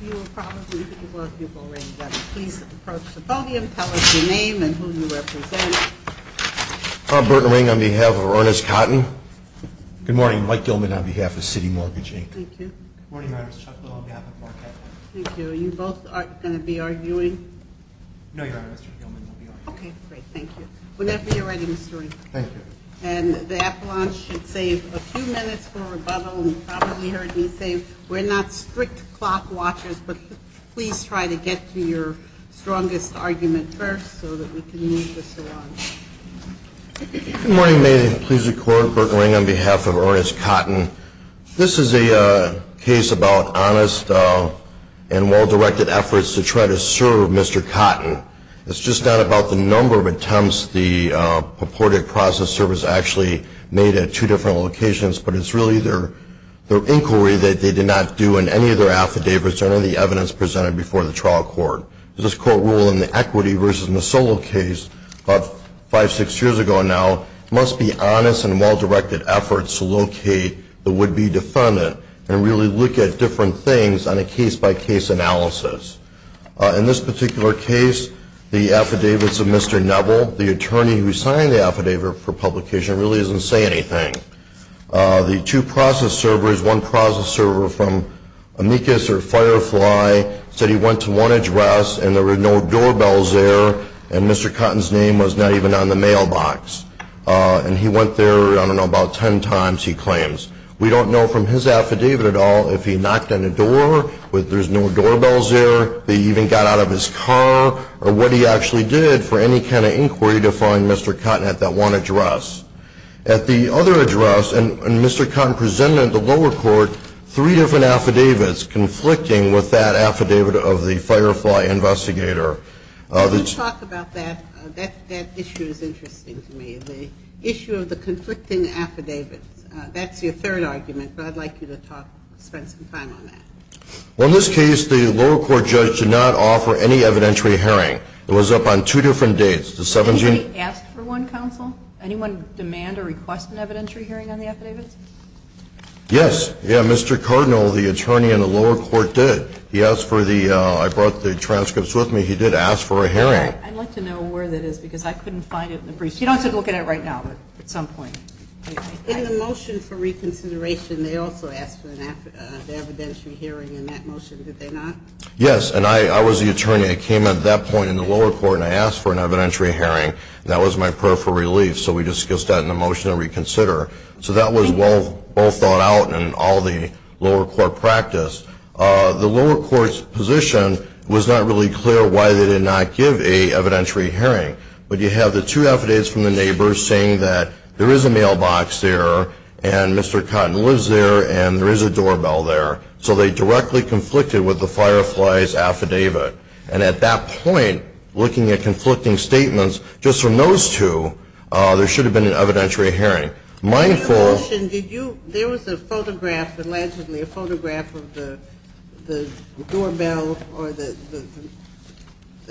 You will probably, because most of you have already done it, please approach the podium and tell us your name and who you represent. Tom Burton Ring on behalf of Ernest Cotton. Good morning. Mike Gilman on behalf of City Mortgage Inc. Good morning, Your Honor. Chuck Lowe on behalf of Marquette. Thank you. Are you both going to be arguing? No, Your Honor. Mr. Gilman will be arguing. Okay, great. Thank you. Whenever you're ready, Mr. Ring. Thank you. And the appellant should save a few minutes for rebuttal. You probably heard me say we're not strict clock watchers, but please try to get to your strongest argument first so that we can move this along. Good morning. May it please the Court, Burton Ring on behalf of Ernest Cotton. This is a case about honest and well-directed efforts to try to serve Mr. Cotton. It's just not about the number of attempts the purported process service actually made at two different locations, but it's really their inquiry that they did not do in any of their affidavits or any of the evidence presented before the trial court. As this Court ruled in the Equity v. Misolo case five, six years ago now, it must be honest and well-directed efforts to locate the would-be defendant and really look at different things on a case-by-case analysis. In this particular case, the affidavits of Mr. Neville, the attorney who signed the affidavit for publication, really doesn't say anything. The two process servers, one process server from Amicus or Firefly, said he went to one address and there were no doorbells there and Mr. Cotton's name was not even on the mailbox. And he went there, I don't know, about ten times, he claims. We don't know from his affidavit at all if he knocked on a door, whether there's no doorbells there, that he even got out of his car, or what he actually did for any kind of inquiry to find Mr. Cotton at that one address. At the other address, and Mr. Cotton presented at the lower court three different affidavits conflicting with that affidavit of the Firefly investigator. Can you talk about that? That issue is interesting to me, the issue of the conflicting affidavits. That's your third argument, but I'd like you to talk, spend some time on that. Well, in this case, the lower court judge did not offer any evidentiary hearing. It was up on two different dates. Anybody ask for one, counsel? Anyone demand or request an evidentiary hearing on the affidavits? Yes. Yeah, Mr. Cardinal, the attorney in the lower court did. He asked for the, I brought the transcripts with me, he did ask for a hearing. I'd like to know where that is because I couldn't find it in the briefs. You don't have to look at it right now, but at some point. In the motion for reconsideration, they also asked for an evidentiary hearing in that motion, did they not? Yes, and I was the attorney. I came at that point in the lower court and I asked for an evidentiary hearing. That was my prayer for relief, so we discussed that in the motion to reconsider. So that was well thought out in all the lower court practice. The lower court's position was not really clear why they did not give a evidentiary hearing, but you have the two affidavits from the neighbors saying that there is a mailbox there and Mr. Cotton lives there and there is a doorbell there. So they directly conflicted with the Firefly's affidavit. And at that point, looking at conflicting statements, just from those two, there should have been an evidentiary hearing. In the motion, did you, there was a photograph, allegedly a photograph of the doorbell or the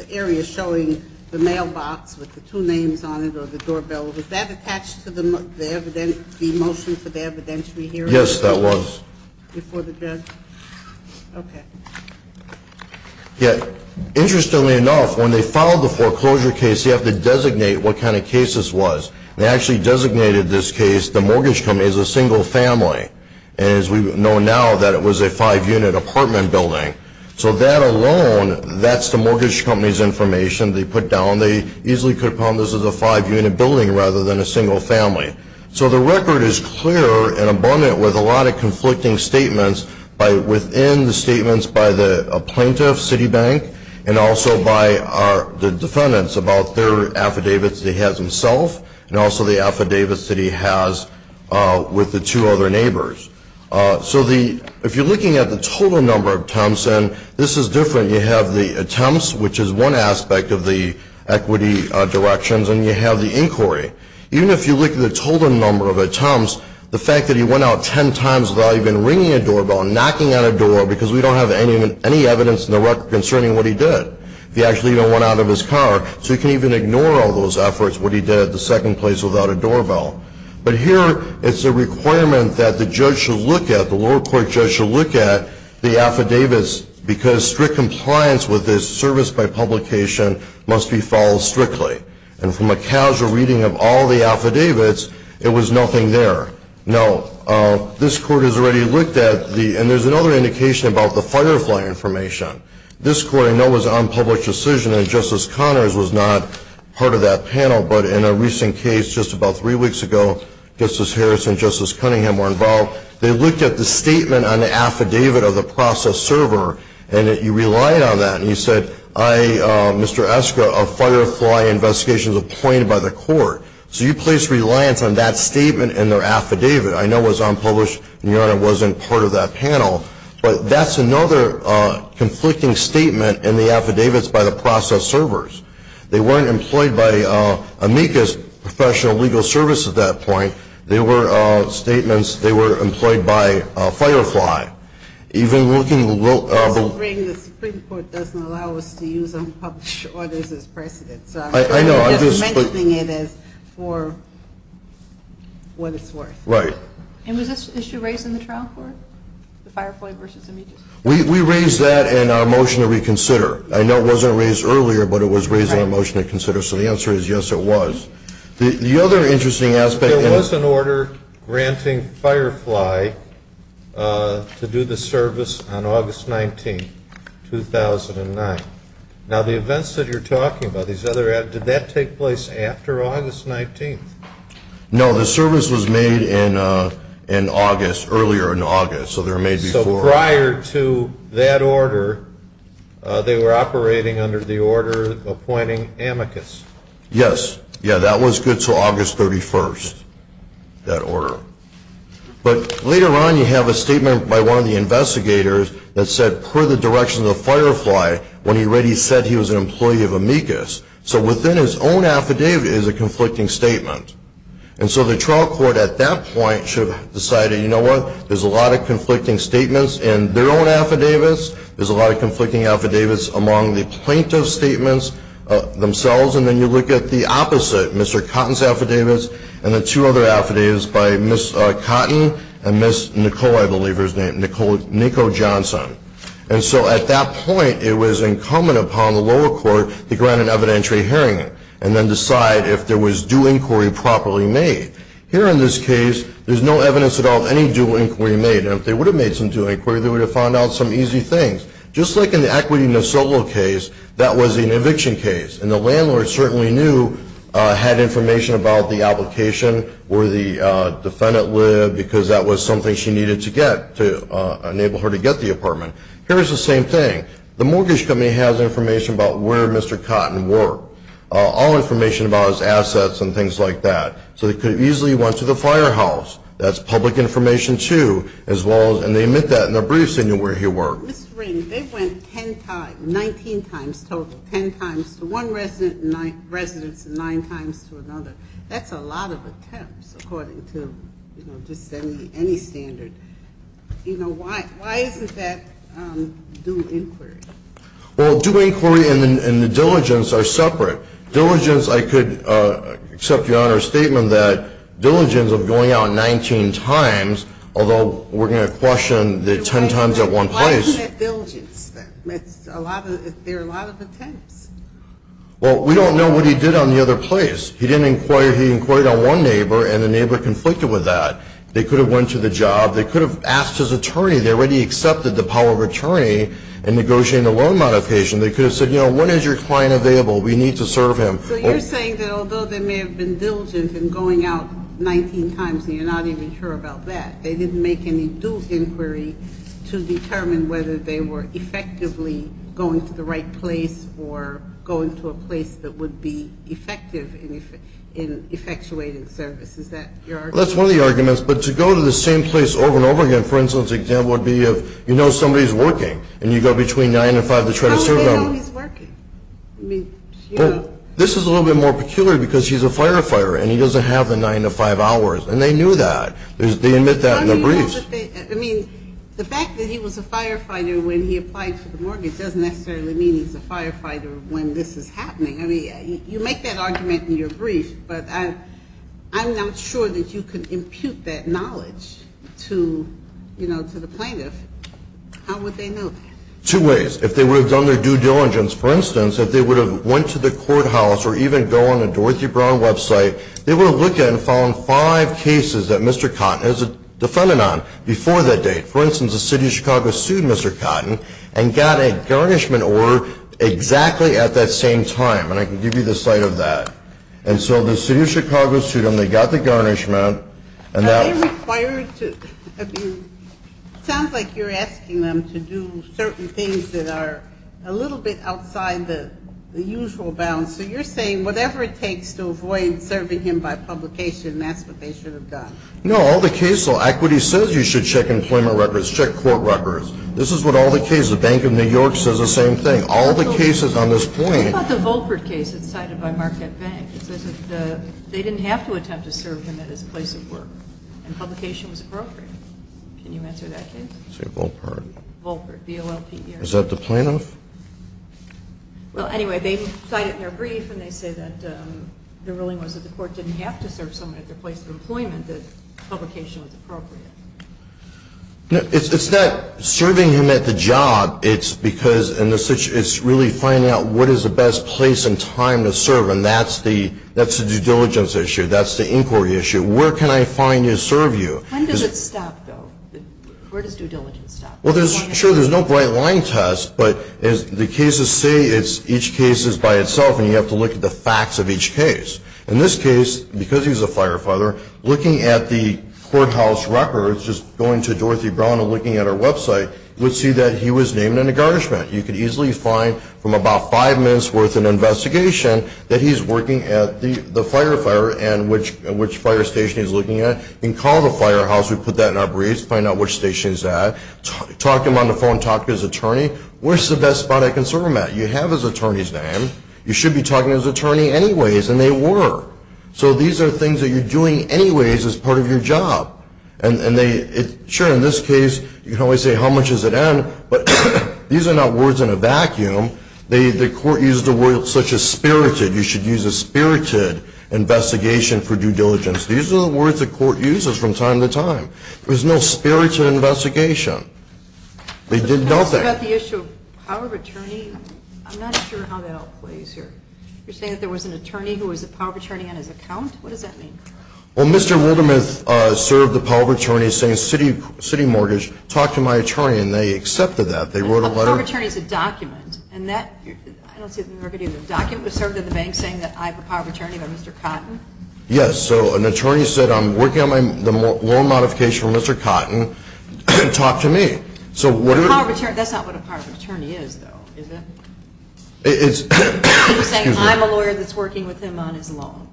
area showing the mailbox with the two names on it or the doorbell. Was that attached to the motion for the evidentiary hearing? Yes, that was. Before the judge? Okay. Interestingly enough, when they filed the foreclosure case, you have to designate what kind of case this was. They actually designated this case, the mortgage company, as a single family. And as we know now, that it was a five-unit apartment building. So that alone, that's the mortgage company's information they put down. They easily could have found this was a five-unit building rather than a single family. So the record is clear and abundant with a lot of conflicting statements within the statements by the plaintiff, Citibank, and also by the defendants about their affidavits they have themselves and also the affidavits that he has with the two other neighbors. So if you're looking at the total number of attempts, and this is different, you have the attempts, which is one aspect of the equity directions, and you have the inquiry. Even if you look at the total number of attempts, the fact that he went out ten times without even ringing a doorbell, knocking on a door, because we don't have any evidence in the record concerning what he did. He actually even went out of his car. So you can even ignore all those efforts, what he did at the second place without a doorbell. But here it's a requirement that the judge should look at, the lower court judge should look at, the affidavits because strict compliance with this service by publication must be followed strictly. And from a casual reading of all the affidavits, it was nothing there. No. This court has already looked at the, and there's another indication about the Firefly information. This court, I know, was on public decision, and Justice Connors was not part of that panel, but in a recent case just about three weeks ago, Justice Harris and Justice Cunningham were involved. They looked at the statement on the affidavit of the process server, and you relied on that. And you said, Mr. Eskra, a Firefly investigation was appointed by the court. So you placed reliance on that statement and their affidavit. I know it was unpublished, and Your Honor wasn't part of that panel, but that's another conflicting statement in the affidavits by the process servers. They weren't employed by amicus professional legal service at that point. They were statements, they were employed by Firefly. Even looking a little. The Supreme Court doesn't allow us to use unpublished orders as precedents. I know. Just mentioning it is for what it's worth. Right. And was this issue raised in the trial court, the Firefly versus amicus? We raised that in our motion to reconsider. I know it wasn't raised earlier, but it was raised in our motion to consider. So the answer is yes, it was. The other interesting aspect. There was an order granting Firefly to do the service on August 19, 2009. Now, the events that you're talking about, did that take place after August 19? No, the service was made in August, earlier in August. So prior to that order, they were operating under the order appointing amicus. Yes. Yeah, that was good until August 31st, that order. But later on, you have a statement by one of the investigators that said, per the directions of Firefly, when he read it, he said he was an employee of amicus. So within his own affidavit is a conflicting statement. And so the trial court at that point should have decided, you know what, there's a lot of conflicting statements in their own affidavits. There's a lot of conflicting affidavits among the plaintiff's statements themselves and then you look at the opposite, Mr. Cotton's affidavits and the two other affidavits by Ms. Cotton and Ms. Nicole, I believe her name, Nicole Johnson. And so at that point, it was incumbent upon the lower court to grant an evidentiary hearing and then decide if there was due inquiry properly made. Here in this case, there's no evidence at all of any due inquiry made. And if they would have made some due inquiry, they would have found out some easy things. Just like in the Equity Nassau case, that was an eviction case. And the landlord certainly knew, had information about the application where the defendant lived because that was something she needed to get to enable her to get the apartment. Here is the same thing. The mortgage company has information about where Mr. Cotton worked, all information about his assets and things like that. So they could have easily went to the firehouse. That's public information, too, as well as, and they admit that in their briefs, they knew where he worked. Ms. Ring, they went ten times, 19 times total, ten times to one residence and nine times to another. That's a lot of attempts, according to just any standard. You know, why isn't that due inquiry? Well, due inquiry and the diligence are separate. Diligence, I could accept Your Honor's statement that diligence of going out 19 times, although we're going to question the ten times at one place. Why isn't it diligence then? There are a lot of attempts. Well, we don't know what he did on the other place. He didn't inquire. He inquired on one neighbor, and the neighbor conflicted with that. They could have went to the job. They could have asked his attorney. They already accepted the power of attorney in negotiating the loan modification. They could have said, you know, when is your client available? We need to serve him. So you're saying that although there may have been diligence in going out 19 times and you're not even sure about that, they didn't make any due inquiry to determine whether they were effectively going to the right place or going to a place that would be effective in effectuating service. Is that your argument? Well, that's one of the arguments. But to go to the same place over and over again, for instance, would be if you know somebody's working and you go between 9 and 5 to try to serve them. How would they know he's working? I mean, you know. This is a little bit more peculiar because he's a firefighter and he doesn't have the 9 to 5 hours. And they knew that. They admit that in their briefs. I mean, the fact that he was a firefighter when he applied for the mortgage doesn't necessarily mean he's a firefighter when this is happening. I mean, you make that argument in your brief, but I'm not sure that you can impute that knowledge to, you know, to the plaintiff. How would they know that? Two ways. If they would have done their due diligence, for instance, if they would have went to the courthouse or even go on the Dorothy Brown website, they would have looked at and found five cases that Mr. Cotton has a defendant on before that date. For instance, the City of Chicago sued Mr. Cotton and got a garnishment order exactly at that same time. And I can give you the site of that. And so the City of Chicago sued him. They got the garnishment. Are they required to, I mean, It sounds like you're asking them to do certain things that are a little bit outside the usual bounds. So you're saying whatever it takes to avoid serving him by publication, that's what they should have done. No, all the cases. Equity says you should check employment records, check court records. This is what all the cases, the Bank of New York says the same thing. All the cases on this point. What about the Volkert case that's cited by Marquette Bank? It says that they didn't have to attempt to serve him at his place of work, and publication was appropriate. Can you answer that case? Volkert, V-O-L-K-E-R-T. Is that the plaintiff? Well, anyway, they cite it in their brief, and they say that the ruling was that the court didn't have to serve someone at their place of employment, that publication was appropriate. It's not serving him at the job. It's because it's really finding out what is the best place and time to serve, and that's the due diligence issue. That's the inquiry issue. Where can I find you to serve you? When does it stop, though? Where does due diligence stop? Well, sure, there's no bright line test, but the cases say each case is by itself, and you have to look at the facts of each case. In this case, because he's a firefighter, looking at the courthouse records, just going to Dorothy Brown and looking at her website, you would see that he was named in a garnishment. You could easily find from about five minutes' worth of investigation that he's working at the fire station he's looking at, and call the firehouse, we put that in our briefs, find out which station he's at, talk to him on the phone, talk to his attorney. Where's the best spot I can serve him at? You have his attorney's name. You should be talking to his attorney anyways, and they were. So these are things that you're doing anyways as part of your job. And sure, in this case, you can always say how much does it end, but these are not words in a vacuum. The court uses the word such as spirited. You should use a spirited investigation for due diligence. These are the words the court uses from time to time. There's no spirited investigation. They did nothing. About the issue of power of attorney, I'm not sure how that all plays here. You're saying that there was an attorney who was a power of attorney on his account? What does that mean? Well, Mr. Wildermuth served the power of attorney saying city mortgage, talked to my attorney, and they accepted that. A power of attorney is a document, and that, I don't see it in the record either. A document was served in the bank saying that I have a power of attorney by Mr. Cotton? Yes. So an attorney said I'm working on the loan modification for Mr. Cotton. Talk to me. That's not what a power of attorney is, though, is it? You're saying I'm a lawyer that's working with him on his loan.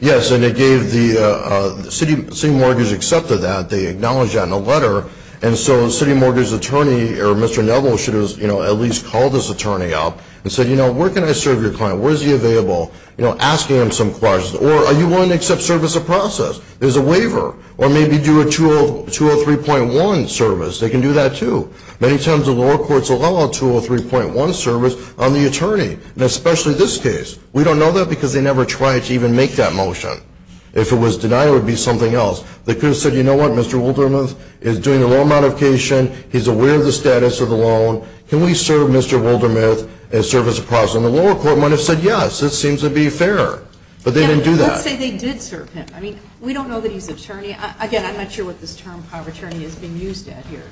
Yes, and they gave the city mortgage accepted that. They acknowledged that in a letter. And so the city mortgage attorney or Mr. Neville should have at least called his attorney up and said, you know, where can I serve your client? Where is he available? You know, asking him some questions. Or are you willing to accept service of process? There's a waiver. Or maybe do a 203.1 service. They can do that too. Many times the lower courts allow a 203.1 service on the attorney, and especially this case. We don't know that because they never tried to even make that motion. If it was denied, it would be something else. They could have said, you know what, Mr. Wildermuth is doing the loan modification. He's aware of the status of the loan. Can we serve Mr. Wildermuth as service of process? And the lower court might have said, yes, it seems to be fair. But they didn't do that. Let's say they did serve him. I mean, we don't know that he's an attorney. Again, I'm not sure what this term power of attorney is being used at here.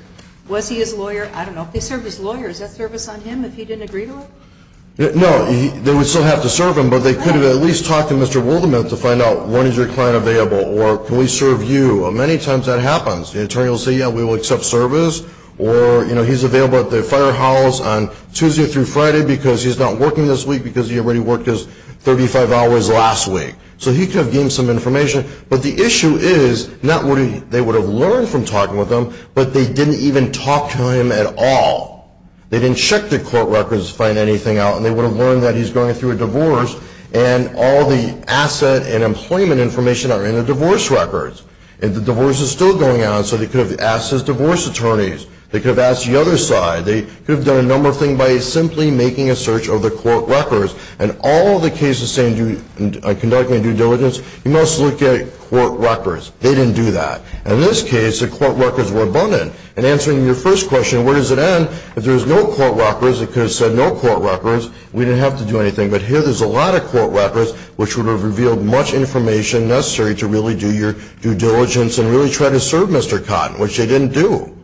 Was he his lawyer? I don't know. If they served his lawyer, is that service on him if he didn't agree to it? No, they would still have to serve him. But they could have at least talked to Mr. Wildermuth to find out when is your client available or can we serve you? Many times that happens. The attorney will say, yeah, we will accept service. Or, you know, he's available at the firehouse on Tuesday through Friday because he's not working this week because he already worked his 35 hours last week. So he could have given some information. But the issue is not what they would have learned from talking with him, but they didn't even talk to him at all. They didn't check the court records to find anything out. And they would have learned that he's going through a divorce and all the asset and employment information are in the divorce records. And the divorce is still going on. So they could have asked his divorce attorneys. They could have asked the other side. They could have done a number of things by simply making a search of the court records. And all the cases saying conducting a due diligence, you must look at court records. They didn't do that. In this case, the court records were abundant. And answering your first question, where does it end, if there was no court records, it could have said no court records, we didn't have to do anything. But here there's a lot of court records which would have revealed much information necessary to really do your due diligence and really try to serve Mr. Cotton, which they didn't do.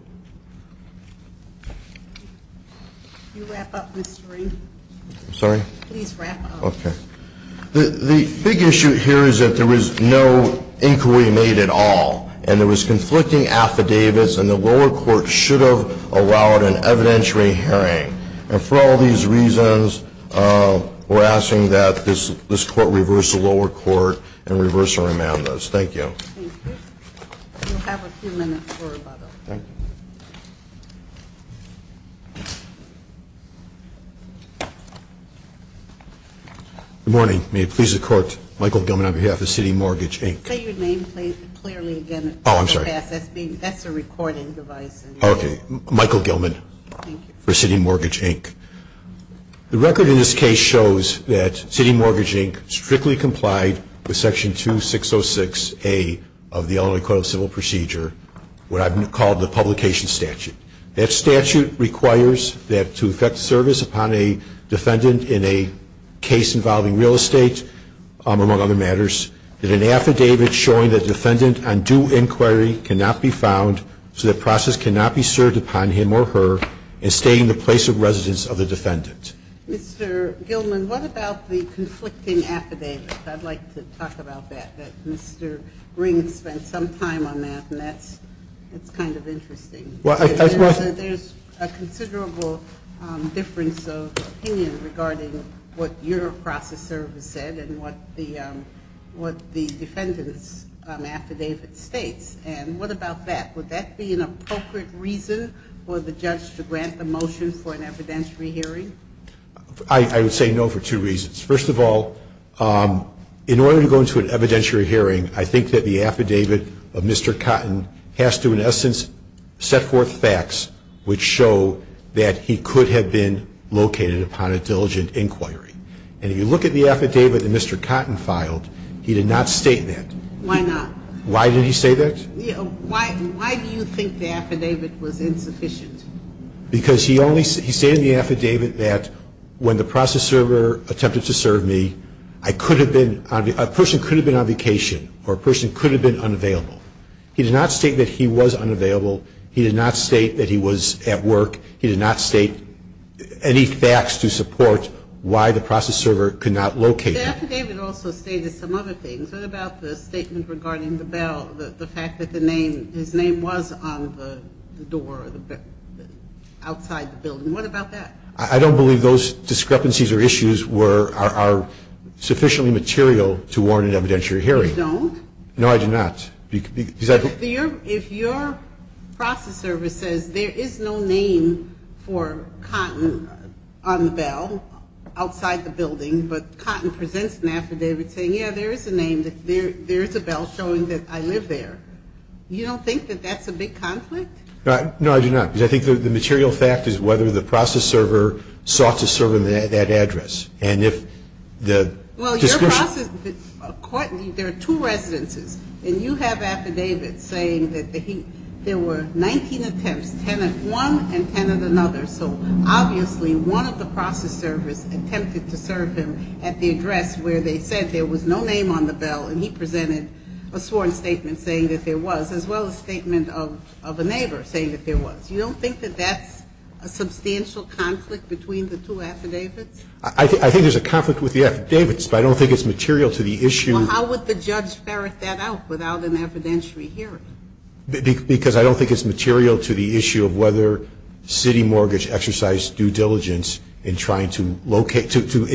Can you wrap up, Mr. Reed? I'm sorry? Please wrap up. Okay. The big issue here is that there was no inquiry made at all. And there was conflicting affidavits. And the lower court should have allowed an evidentiary hearing. And for all these reasons, we're asking that this court reverse the lower court and reverse our amendments. Thank you. Thank you. We'll have a few minutes for rebuttal. Thank you. Good morning. May it please the Court, Michael Gilman on behalf of City Mortgage, Inc. Say your name clearly again. Oh, I'm sorry. That's a recording device. Okay. Michael Gilman for City Mortgage, Inc. The record in this case shows that City Mortgage, Inc. strictly complied with Section 2606A of the Illinois Court of Civil Procedure, what I've called the publication statute. That statute requires that to effect service upon a defendant in a case involving real estate, among other matters, that an affidavit showing the defendant on due inquiry cannot be found so that process cannot be served upon him or her in stating the place of residence of the defendant. Mr. Gilman, what about the conflicting affidavit? I'd like to talk about that. Mr. Ring spent some time on that, and that's kind of interesting. There's a considerable difference of opinion regarding what your process service said and what the defendant's affidavit states, and what about that? Would that be an appropriate reason for the judge to grant the motion for an evidentiary hearing? I would say no for two reasons. First of all, in order to go into an evidentiary hearing, I think that the affidavit of Mr. Cotton has to, in essence, set forth facts which show that he could have been located upon a diligent inquiry. And if you look at the affidavit that Mr. Cotton filed, he did not state that. Why not? Why did he say that? Why do you think the affidavit was insufficient? Because he stated in the affidavit that when the process server attempted to serve me, a person could have been on vacation or a person could have been unavailable. He did not state that he was unavailable. He did not state that he was at work. He did not state any facts to support why the process server could not locate him. The affidavit also stated some other things. What about the statement regarding the fact that his name was on the door outside the building? What about that? I don't believe those discrepancies or issues are sufficiently material to warrant an evidentiary hearing. You don't? No, I do not. If your process server says there is no name for Cotton on the bell outside the building but Cotton presents an affidavit saying, yeah, there is a name, there is a bell showing that I live there, you don't think that that's a big conflict? No, I do not. Because I think the material fact is whether the process server sought to serve him at that address. And if the discrepancy. Well, your process, there are two residences, and you have affidavits saying that there were 19 attempts, 10 at one and 10 at another. So obviously one of the process servers attempted to serve him at the address where they said there was no name on the bell and he presented a sworn statement saying that there was, as well as a statement of a neighbor saying that there was. You don't think that that's a substantial conflict between the two affidavits? I think there's a conflict with the affidavits, but I don't think it's material to the issue. Well, how would the judge ferret that out without an evidentiary hearing? Because I don't think it's material to the issue of whether city mortgage exercised due diligence in trying to locate, to do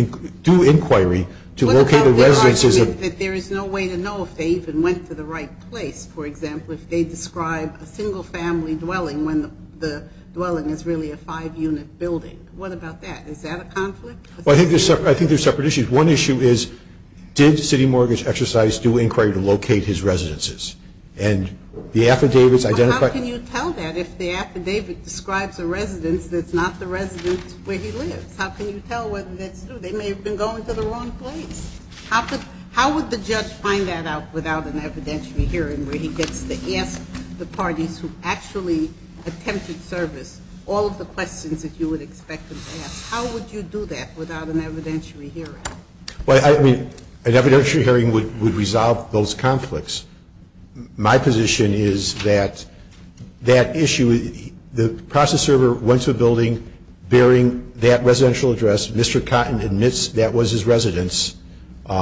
inquiry to locate the residences. Well, they're arguing that there is no way to know if they even went to the right place, for example, if they describe a single-family dwelling when the dwelling is really a five-unit building. What about that? Is that a conflict? Well, I think there's separate issues. One issue is did city mortgage exercise due inquiry to locate his residences? And the affidavits identify... Well, how can you tell that if the affidavit describes a residence that's not the residence where he lives? How can you tell whether that's true? They may have been going to the wrong place. How would the judge find that out without an evidentiary hearing where he gets to ask the parties who actually attempted service all of the questions that you would expect them to ask? How would you do that without an evidentiary hearing? Well, I mean, an evidentiary hearing would resolve those conflicts. My position is that that issue, the process server went to a building bearing that residential address. Mr. Cotton admits that was his residence. And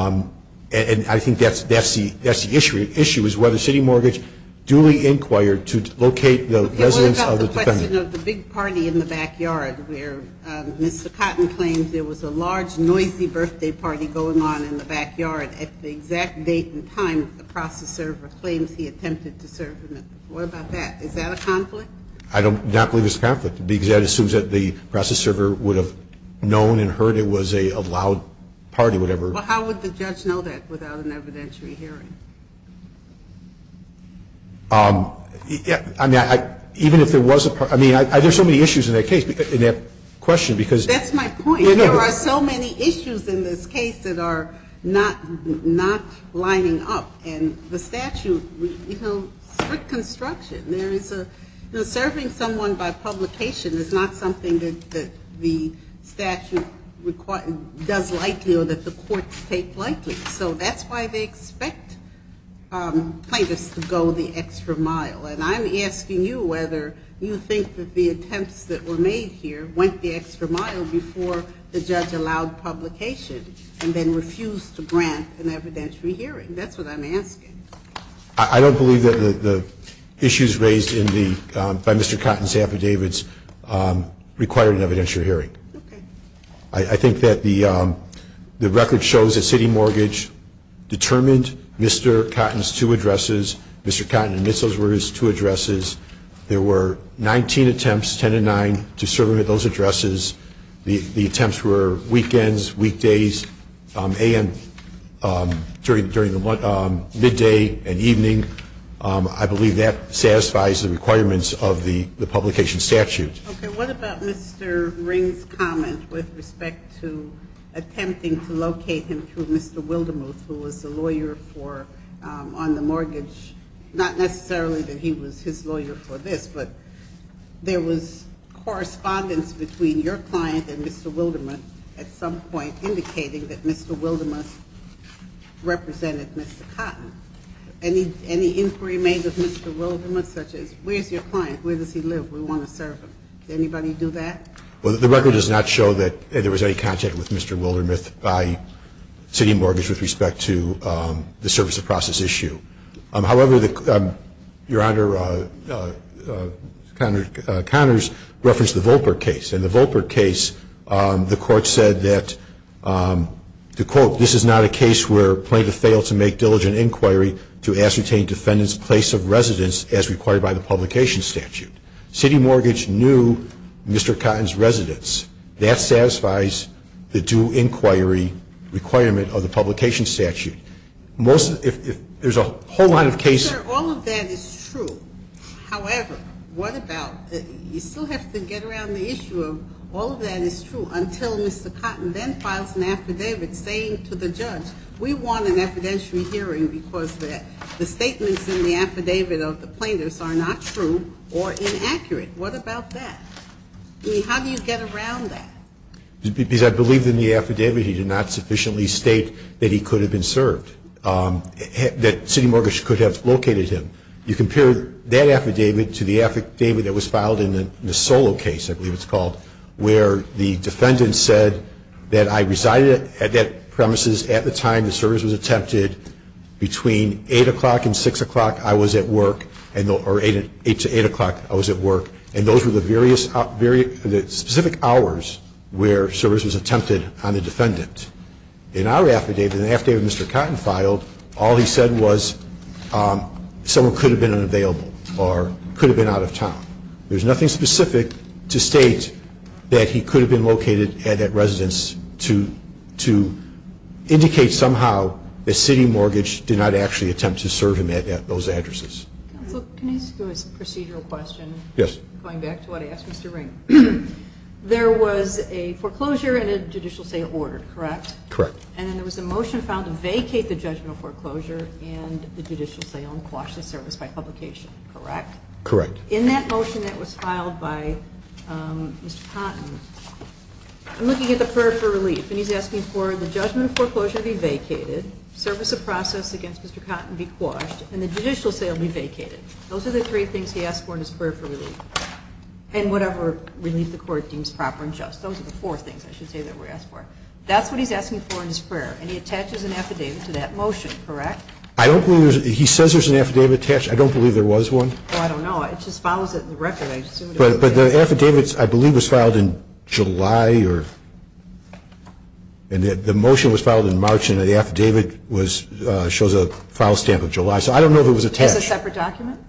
I think that's the issue, is whether city mortgage duly inquired to locate the residence of the defendant. What about the question of the big party in the backyard where Mr. Cotton claims there was a large, noisy birthday party going on in the backyard at the exact date and time that the process server claims he attempted to serve him? What about that? Is that a conflict? I do not believe it's a conflict. Because that assumes that the process server would have known and heard it was a loud party, whatever. Well, how would the judge know that without an evidentiary hearing? I mean, even if there was a party. I mean, there are so many issues in that case, in that question, because That's my point. There are so many issues in this case that are not lining up. And the statute, you know, strict construction. Serving someone by publication is not something that the statute does likely or that the courts take likely. So that's why they expect plaintiffs to go the extra mile. And I'm asking you whether you think that the attempts that were made here went the extra mile before the judge allowed publication and then refused to grant an evidentiary hearing. That's what I'm asking. I don't believe that the issues raised by Mr. Cotton's affidavits required an evidentiary hearing. Okay. I think that the record shows that City Mortgage determined Mr. Cotton's two addresses, Mr. Cotton admits those were his two addresses. There were 19 attempts, 10 to 9, to serve him at those addresses. The attempts were weekends, weekdays, a.m. during the midday and evening. I believe that satisfies the requirements of the publication statute. Okay. What about Mr. Ring's comment with respect to attempting to locate him through Mr. Wildemuth, who was the lawyer on the mortgage? Not necessarily that he was his lawyer for this, but there was correspondence between your client and Mr. Wildemuth at some point indicating that Mr. Wildemuth represented Mr. Cotton. Any inquiry made with Mr. Wildemuth such as where's your client, where does he live, we want to serve him? Did anybody do that? Well, the record does not show that there was any contact with Mr. Wildemuth by City Mortgage with respect to the service of process issue. However, Your Honor, Connors referenced the Volper case. In the Volper case, the court said that, to quote, this is not a case where plaintiff failed to make diligent inquiry to ascertain defendant's place of residence as required by the publication statute. City Mortgage knew Mr. Cotton's residence. That satisfies the due inquiry requirement of the publication statute. There's a whole lot of cases. All of that is true. However, what about, you still have to get around the issue of all of that is true until Mr. Cotton then files an affidavit saying to the judge, we want an evidentiary hearing because the statements in the affidavit of the plaintiffs are not true or inaccurate. What about that? I mean, how do you get around that? Because I believe in the affidavit he did not sufficiently state that he could have been served, that City Mortgage could have located him. You compare that affidavit to the affidavit that was filed in the Solo case, I believe it's called, where the defendant said that I resided at that premises at the time the service was attempted. Between 8 o'clock and 6 o'clock I was at work, or 8 to 8 o'clock I was at work, and those were the specific hours where service was attempted on the defendant. In our affidavit, in the affidavit Mr. Cotton filed, all he said was someone could have been unavailable or could have been out of town. There's nothing specific to state that he could have been located at that residence to indicate somehow that City Mortgage did not actually attempt to serve him at those addresses. Counsel, can I ask you a procedural question? Yes. Going back to what I asked Mr. Ring. There was a foreclosure and a judicial sale ordered, correct? Correct. And then there was a motion filed to vacate the judgment of foreclosure and the judicial sale and quash the service by publication, correct? Correct. In that motion that was filed by Mr. Cotton, I'm looking at the prayer for relief, and he's asking for the judgment of foreclosure to be vacated, service of process against Mr. Cotton be quashed, and the judicial sale be vacated. Those are the three things he asked for in his prayer for relief, and whatever relief the court deems proper and just. Those are the four things I should say that we asked for. That's what he's asking for in his prayer, and he attaches an affidavit to that motion, correct? He says there's an affidavit attached. I don't believe there was one. I don't know. It just follows it in the record. But the affidavit, I believe, was filed in July, and the motion was filed in March and the affidavit shows a file stamp of July. So I don't know if it was attached. It's a separate document?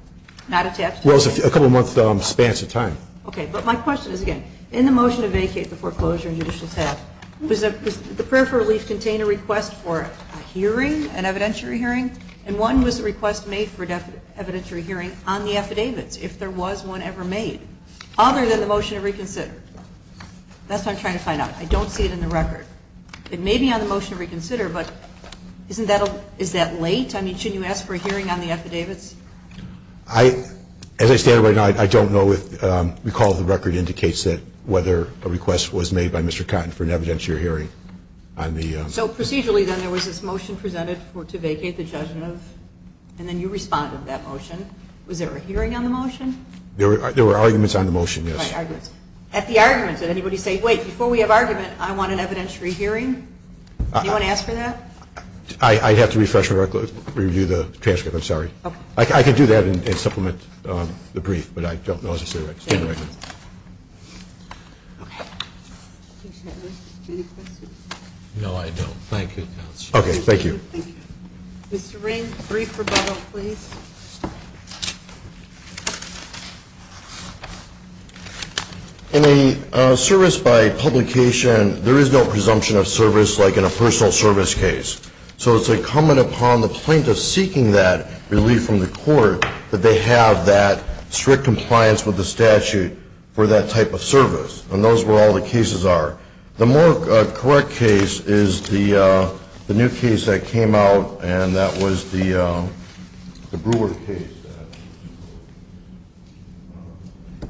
Not attached to it? Well, it's a couple-month span of time. Okay. But my question is, again, in the motion to vacate the foreclosure and judicial sale, does the prayer for relief contain a request for a hearing, an evidentiary hearing? And one was a request made for an evidentiary hearing on the affidavits, if there was one ever made, other than the motion to reconsider. That's what I'm trying to find out. I don't see it in the record. It may be on the motion to reconsider, but is that late? I mean, shouldn't you ask for a hearing on the affidavits? As I stand right now, I don't know. The recall of the record indicates that whether a request was made by Mr. Cotton for an evidentiary hearing on the affidavits. So procedurally, then, there was this motion presented to vacate the judgment, and then you responded to that motion. Was there a hearing on the motion? There were arguments on the motion, yes. What arguments? At the arguments, did anybody say, wait, before we have argument, I want an evidentiary hearing? Did anyone ask for that? I'd have to refresh and review the transcript. I'm sorry. I can do that and supplement the brief, but I don't know as I stand right now. Okay. Any questions? No, I don't. Thank you, Counsel. Okay, thank you. Thank you. Mr. Ring, brief rebuttal, please. In a service by publication, there is no presumption of service like in a personal service case. So it's incumbent upon the plaintiff seeking that relief from the court that they have that strict compliance with the statute for that type of service. And those were all the cases are. The more correct case is the new case that came out, and that was the Brewer case.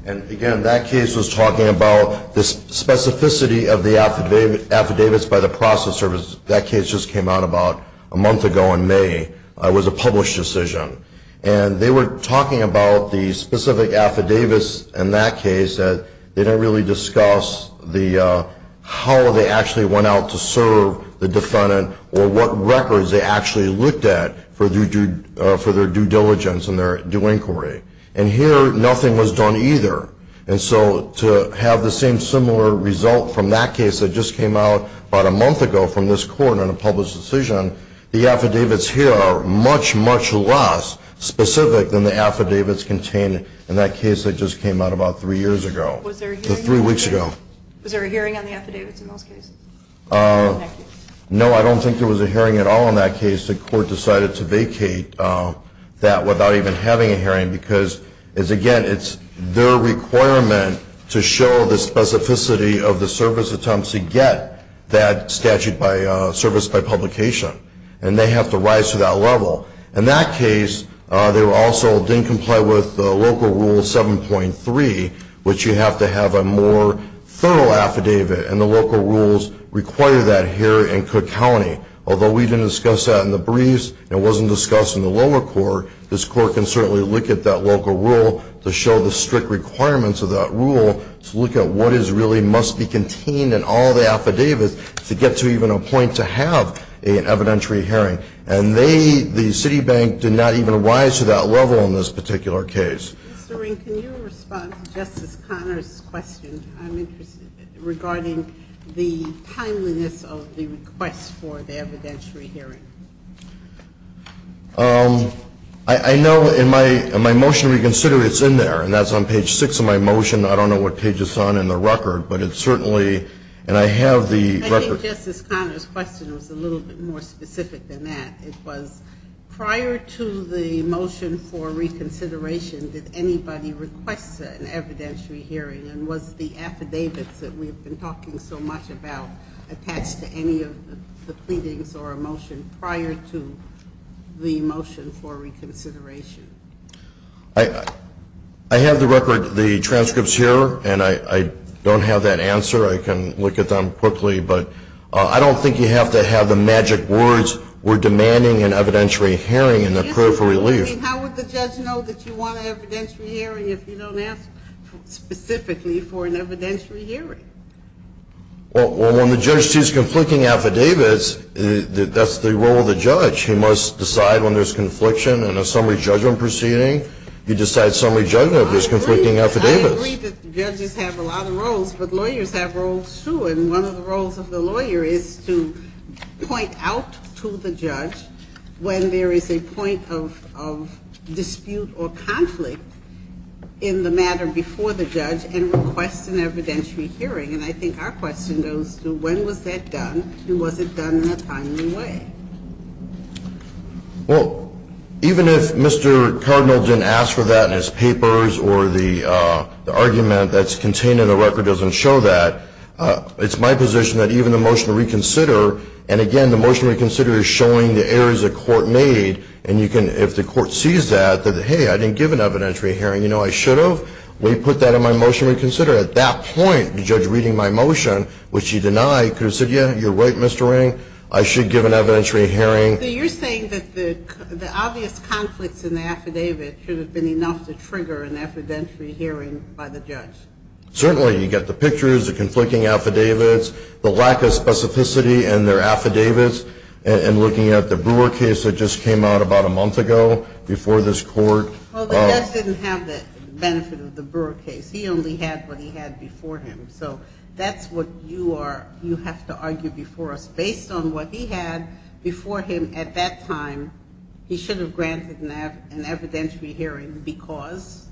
And, again, that case was talking about the specificity of the affidavits by the process service. That case just came out about a month ago in May. It was a published decision. And they were talking about the specific affidavits in that case that they didn't really discuss how they actually went out to serve the defendant or what records they actually looked at for their due diligence and their due inquiry. And here nothing was done either. And so to have the same similar result from that case that just came out about a month ago from this court in a published decision, the affidavits here are much, much less specific than the affidavits contained in that case that just came out about three years ago, three weeks ago. Was there a hearing on the affidavits in those cases? No, I don't think there was a hearing at all in that case. The court decided to vacate that without even having a hearing because, again, it's their requirement to show the specificity of the service attempts to get that statute serviced by publication. And they have to rise to that level. In that case, they also didn't comply with Local Rule 7.3, which you have to have a more thorough affidavit. And the local rules require that here in Cook County, although we didn't discuss that in the briefs and it wasn't discussed in the lower court, this court can certainly look at that local rule to show the strict requirements of that rule to look at what is really must be contained in all the affidavits to get to even a point to have an evidentiary hearing. And they, the Citibank, did not even rise to that level in this particular case. Mr. Ring, can you respond to Justice Conner's question? I'm interested, regarding the timeliness of the request for the evidentiary hearing. I know in my motion to reconsider, it's in there, and that's on page 6 of my motion. I don't know what page it's on in the record, but it certainly, and I have the record. I think Justice Conner's question was a little bit more specific than that. It was prior to the motion for reconsideration, did anybody request an evidentiary hearing and was the affidavits that we've been talking so much about attached to any of the pleadings or a motion prior to the motion for reconsideration? I have the record, the transcripts here, and I don't have that answer. I can look at them quickly, but I don't think you have to have the magic words, we're demanding an evidentiary hearing and a prayer for relief. I mean, how would the judge know that you want an evidentiary hearing if you don't ask specifically for an evidentiary hearing? Well, when the judge sees conflicting affidavits, that's the role of the judge. He must decide when there's confliction in a summary judgment proceeding. He decides summary judgment if there's conflicting affidavits. I agree that judges have a lot of roles, but lawyers have roles too, and one of the roles of the lawyer is to point out to the judge when there is a point of dispute or conflict in the matter before the judge and request an evidentiary hearing. And I think our question goes to when was that done and was it done in a timely way? Well, even if Mr. Cardinal didn't ask for that in his papers or the argument that's contained in the record doesn't show that, it's my position that even the motion to reconsider, and again, the motion to reconsider is showing the errors the court made, and you can, if the court sees that, that, hey, I didn't give an evidentiary hearing, you know, I should have, we put that in my motion to reconsider. At that point, the judge reading my motion, which he denied, could have said, yeah, you're right, Mr. Ring, I should give an evidentiary hearing. So you're saying that the obvious conflicts in the affidavit should have been enough to trigger an evidentiary hearing by the judge? Certainly. You get the pictures, the conflicting affidavits, the lack of specificity in their affidavits, and looking at the Brewer case that just came out about a month ago before this court. Well, the judge didn't have the benefit of the Brewer case. He only had what he had before him. So that's what you are, you have to argue before us. Based on what he had before him at that time, he should have granted an evidentiary hearing because?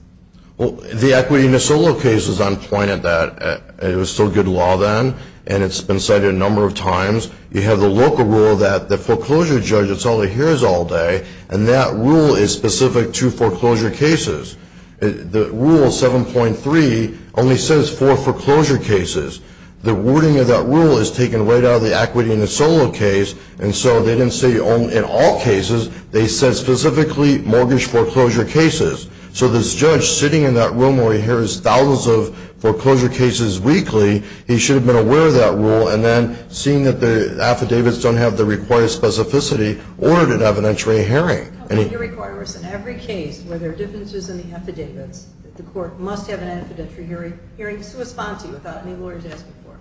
Well, the equity in the Solo case was on point at that. It was still good law then, and it's been cited a number of times. You have the local rule that the foreclosure judge that's only hears all day, and that rule is specific to foreclosure cases. The rule 7.3 only says for foreclosure cases. The wording of that rule is taken right out of the equity in the Solo case, and so they didn't say in all cases, they said specifically mortgage foreclosure cases. So this judge sitting in that room where he hears thousands of foreclosure cases weekly, he should have been aware of that rule, and then seeing that the affidavits don't have the required specificity, ordered an evidentiary hearing. You require us in every case where there are differences in the affidavits, that the court must have an evidentiary hearing to respond to without any lawyers asking for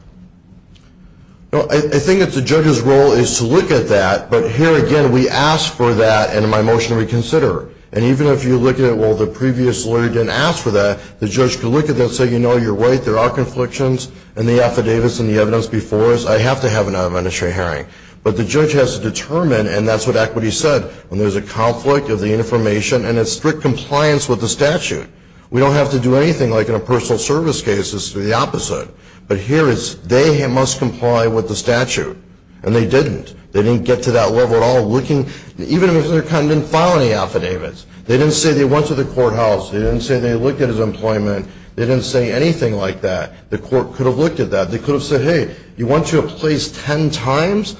it. I think that the judge's role is to look at that, but here again we ask for that in my motion to reconsider. And even if you look at it, well, the previous lawyer didn't ask for that, the judge can look at that and say, you know, you're right, there are conflictions in the affidavits and the evidence before us, I have to have an evidentiary hearing. But the judge has to determine, and that's what equity said, when there's a conflict of the information and a strict compliance with the statute. We don't have to do anything like in a personal service case, it's the opposite. But here it's they must comply with the statute, and they didn't. They didn't get to that level at all, even if they didn't file any affidavits. They didn't say they went to the courthouse. They didn't say they looked at his employment. They didn't say anything like that. The court could have looked at that. They could have said, hey, you went to a place ten times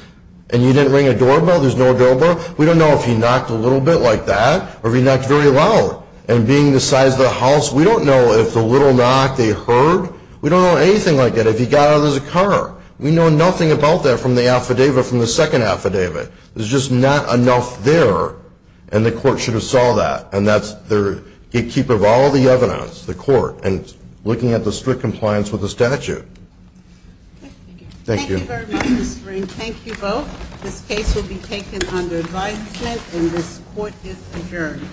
and you didn't ring a doorbell, there's no doorbell. We don't know if he knocked a little bit like that or if he knocked very loud. And being the size of the house, we don't know if the little knock they heard. We don't know anything like that. If he got out, there's a car. We know nothing about that from the affidavit, from the second affidavit. There's just not enough there, and the court should have saw that. And that's the gatekeeper of all the evidence, the court, and looking at the strict compliance with the statute. Thank you. Thank you very much, Mr. Green. Thank you both. This case will be taken under advisement, and this court is adjourned.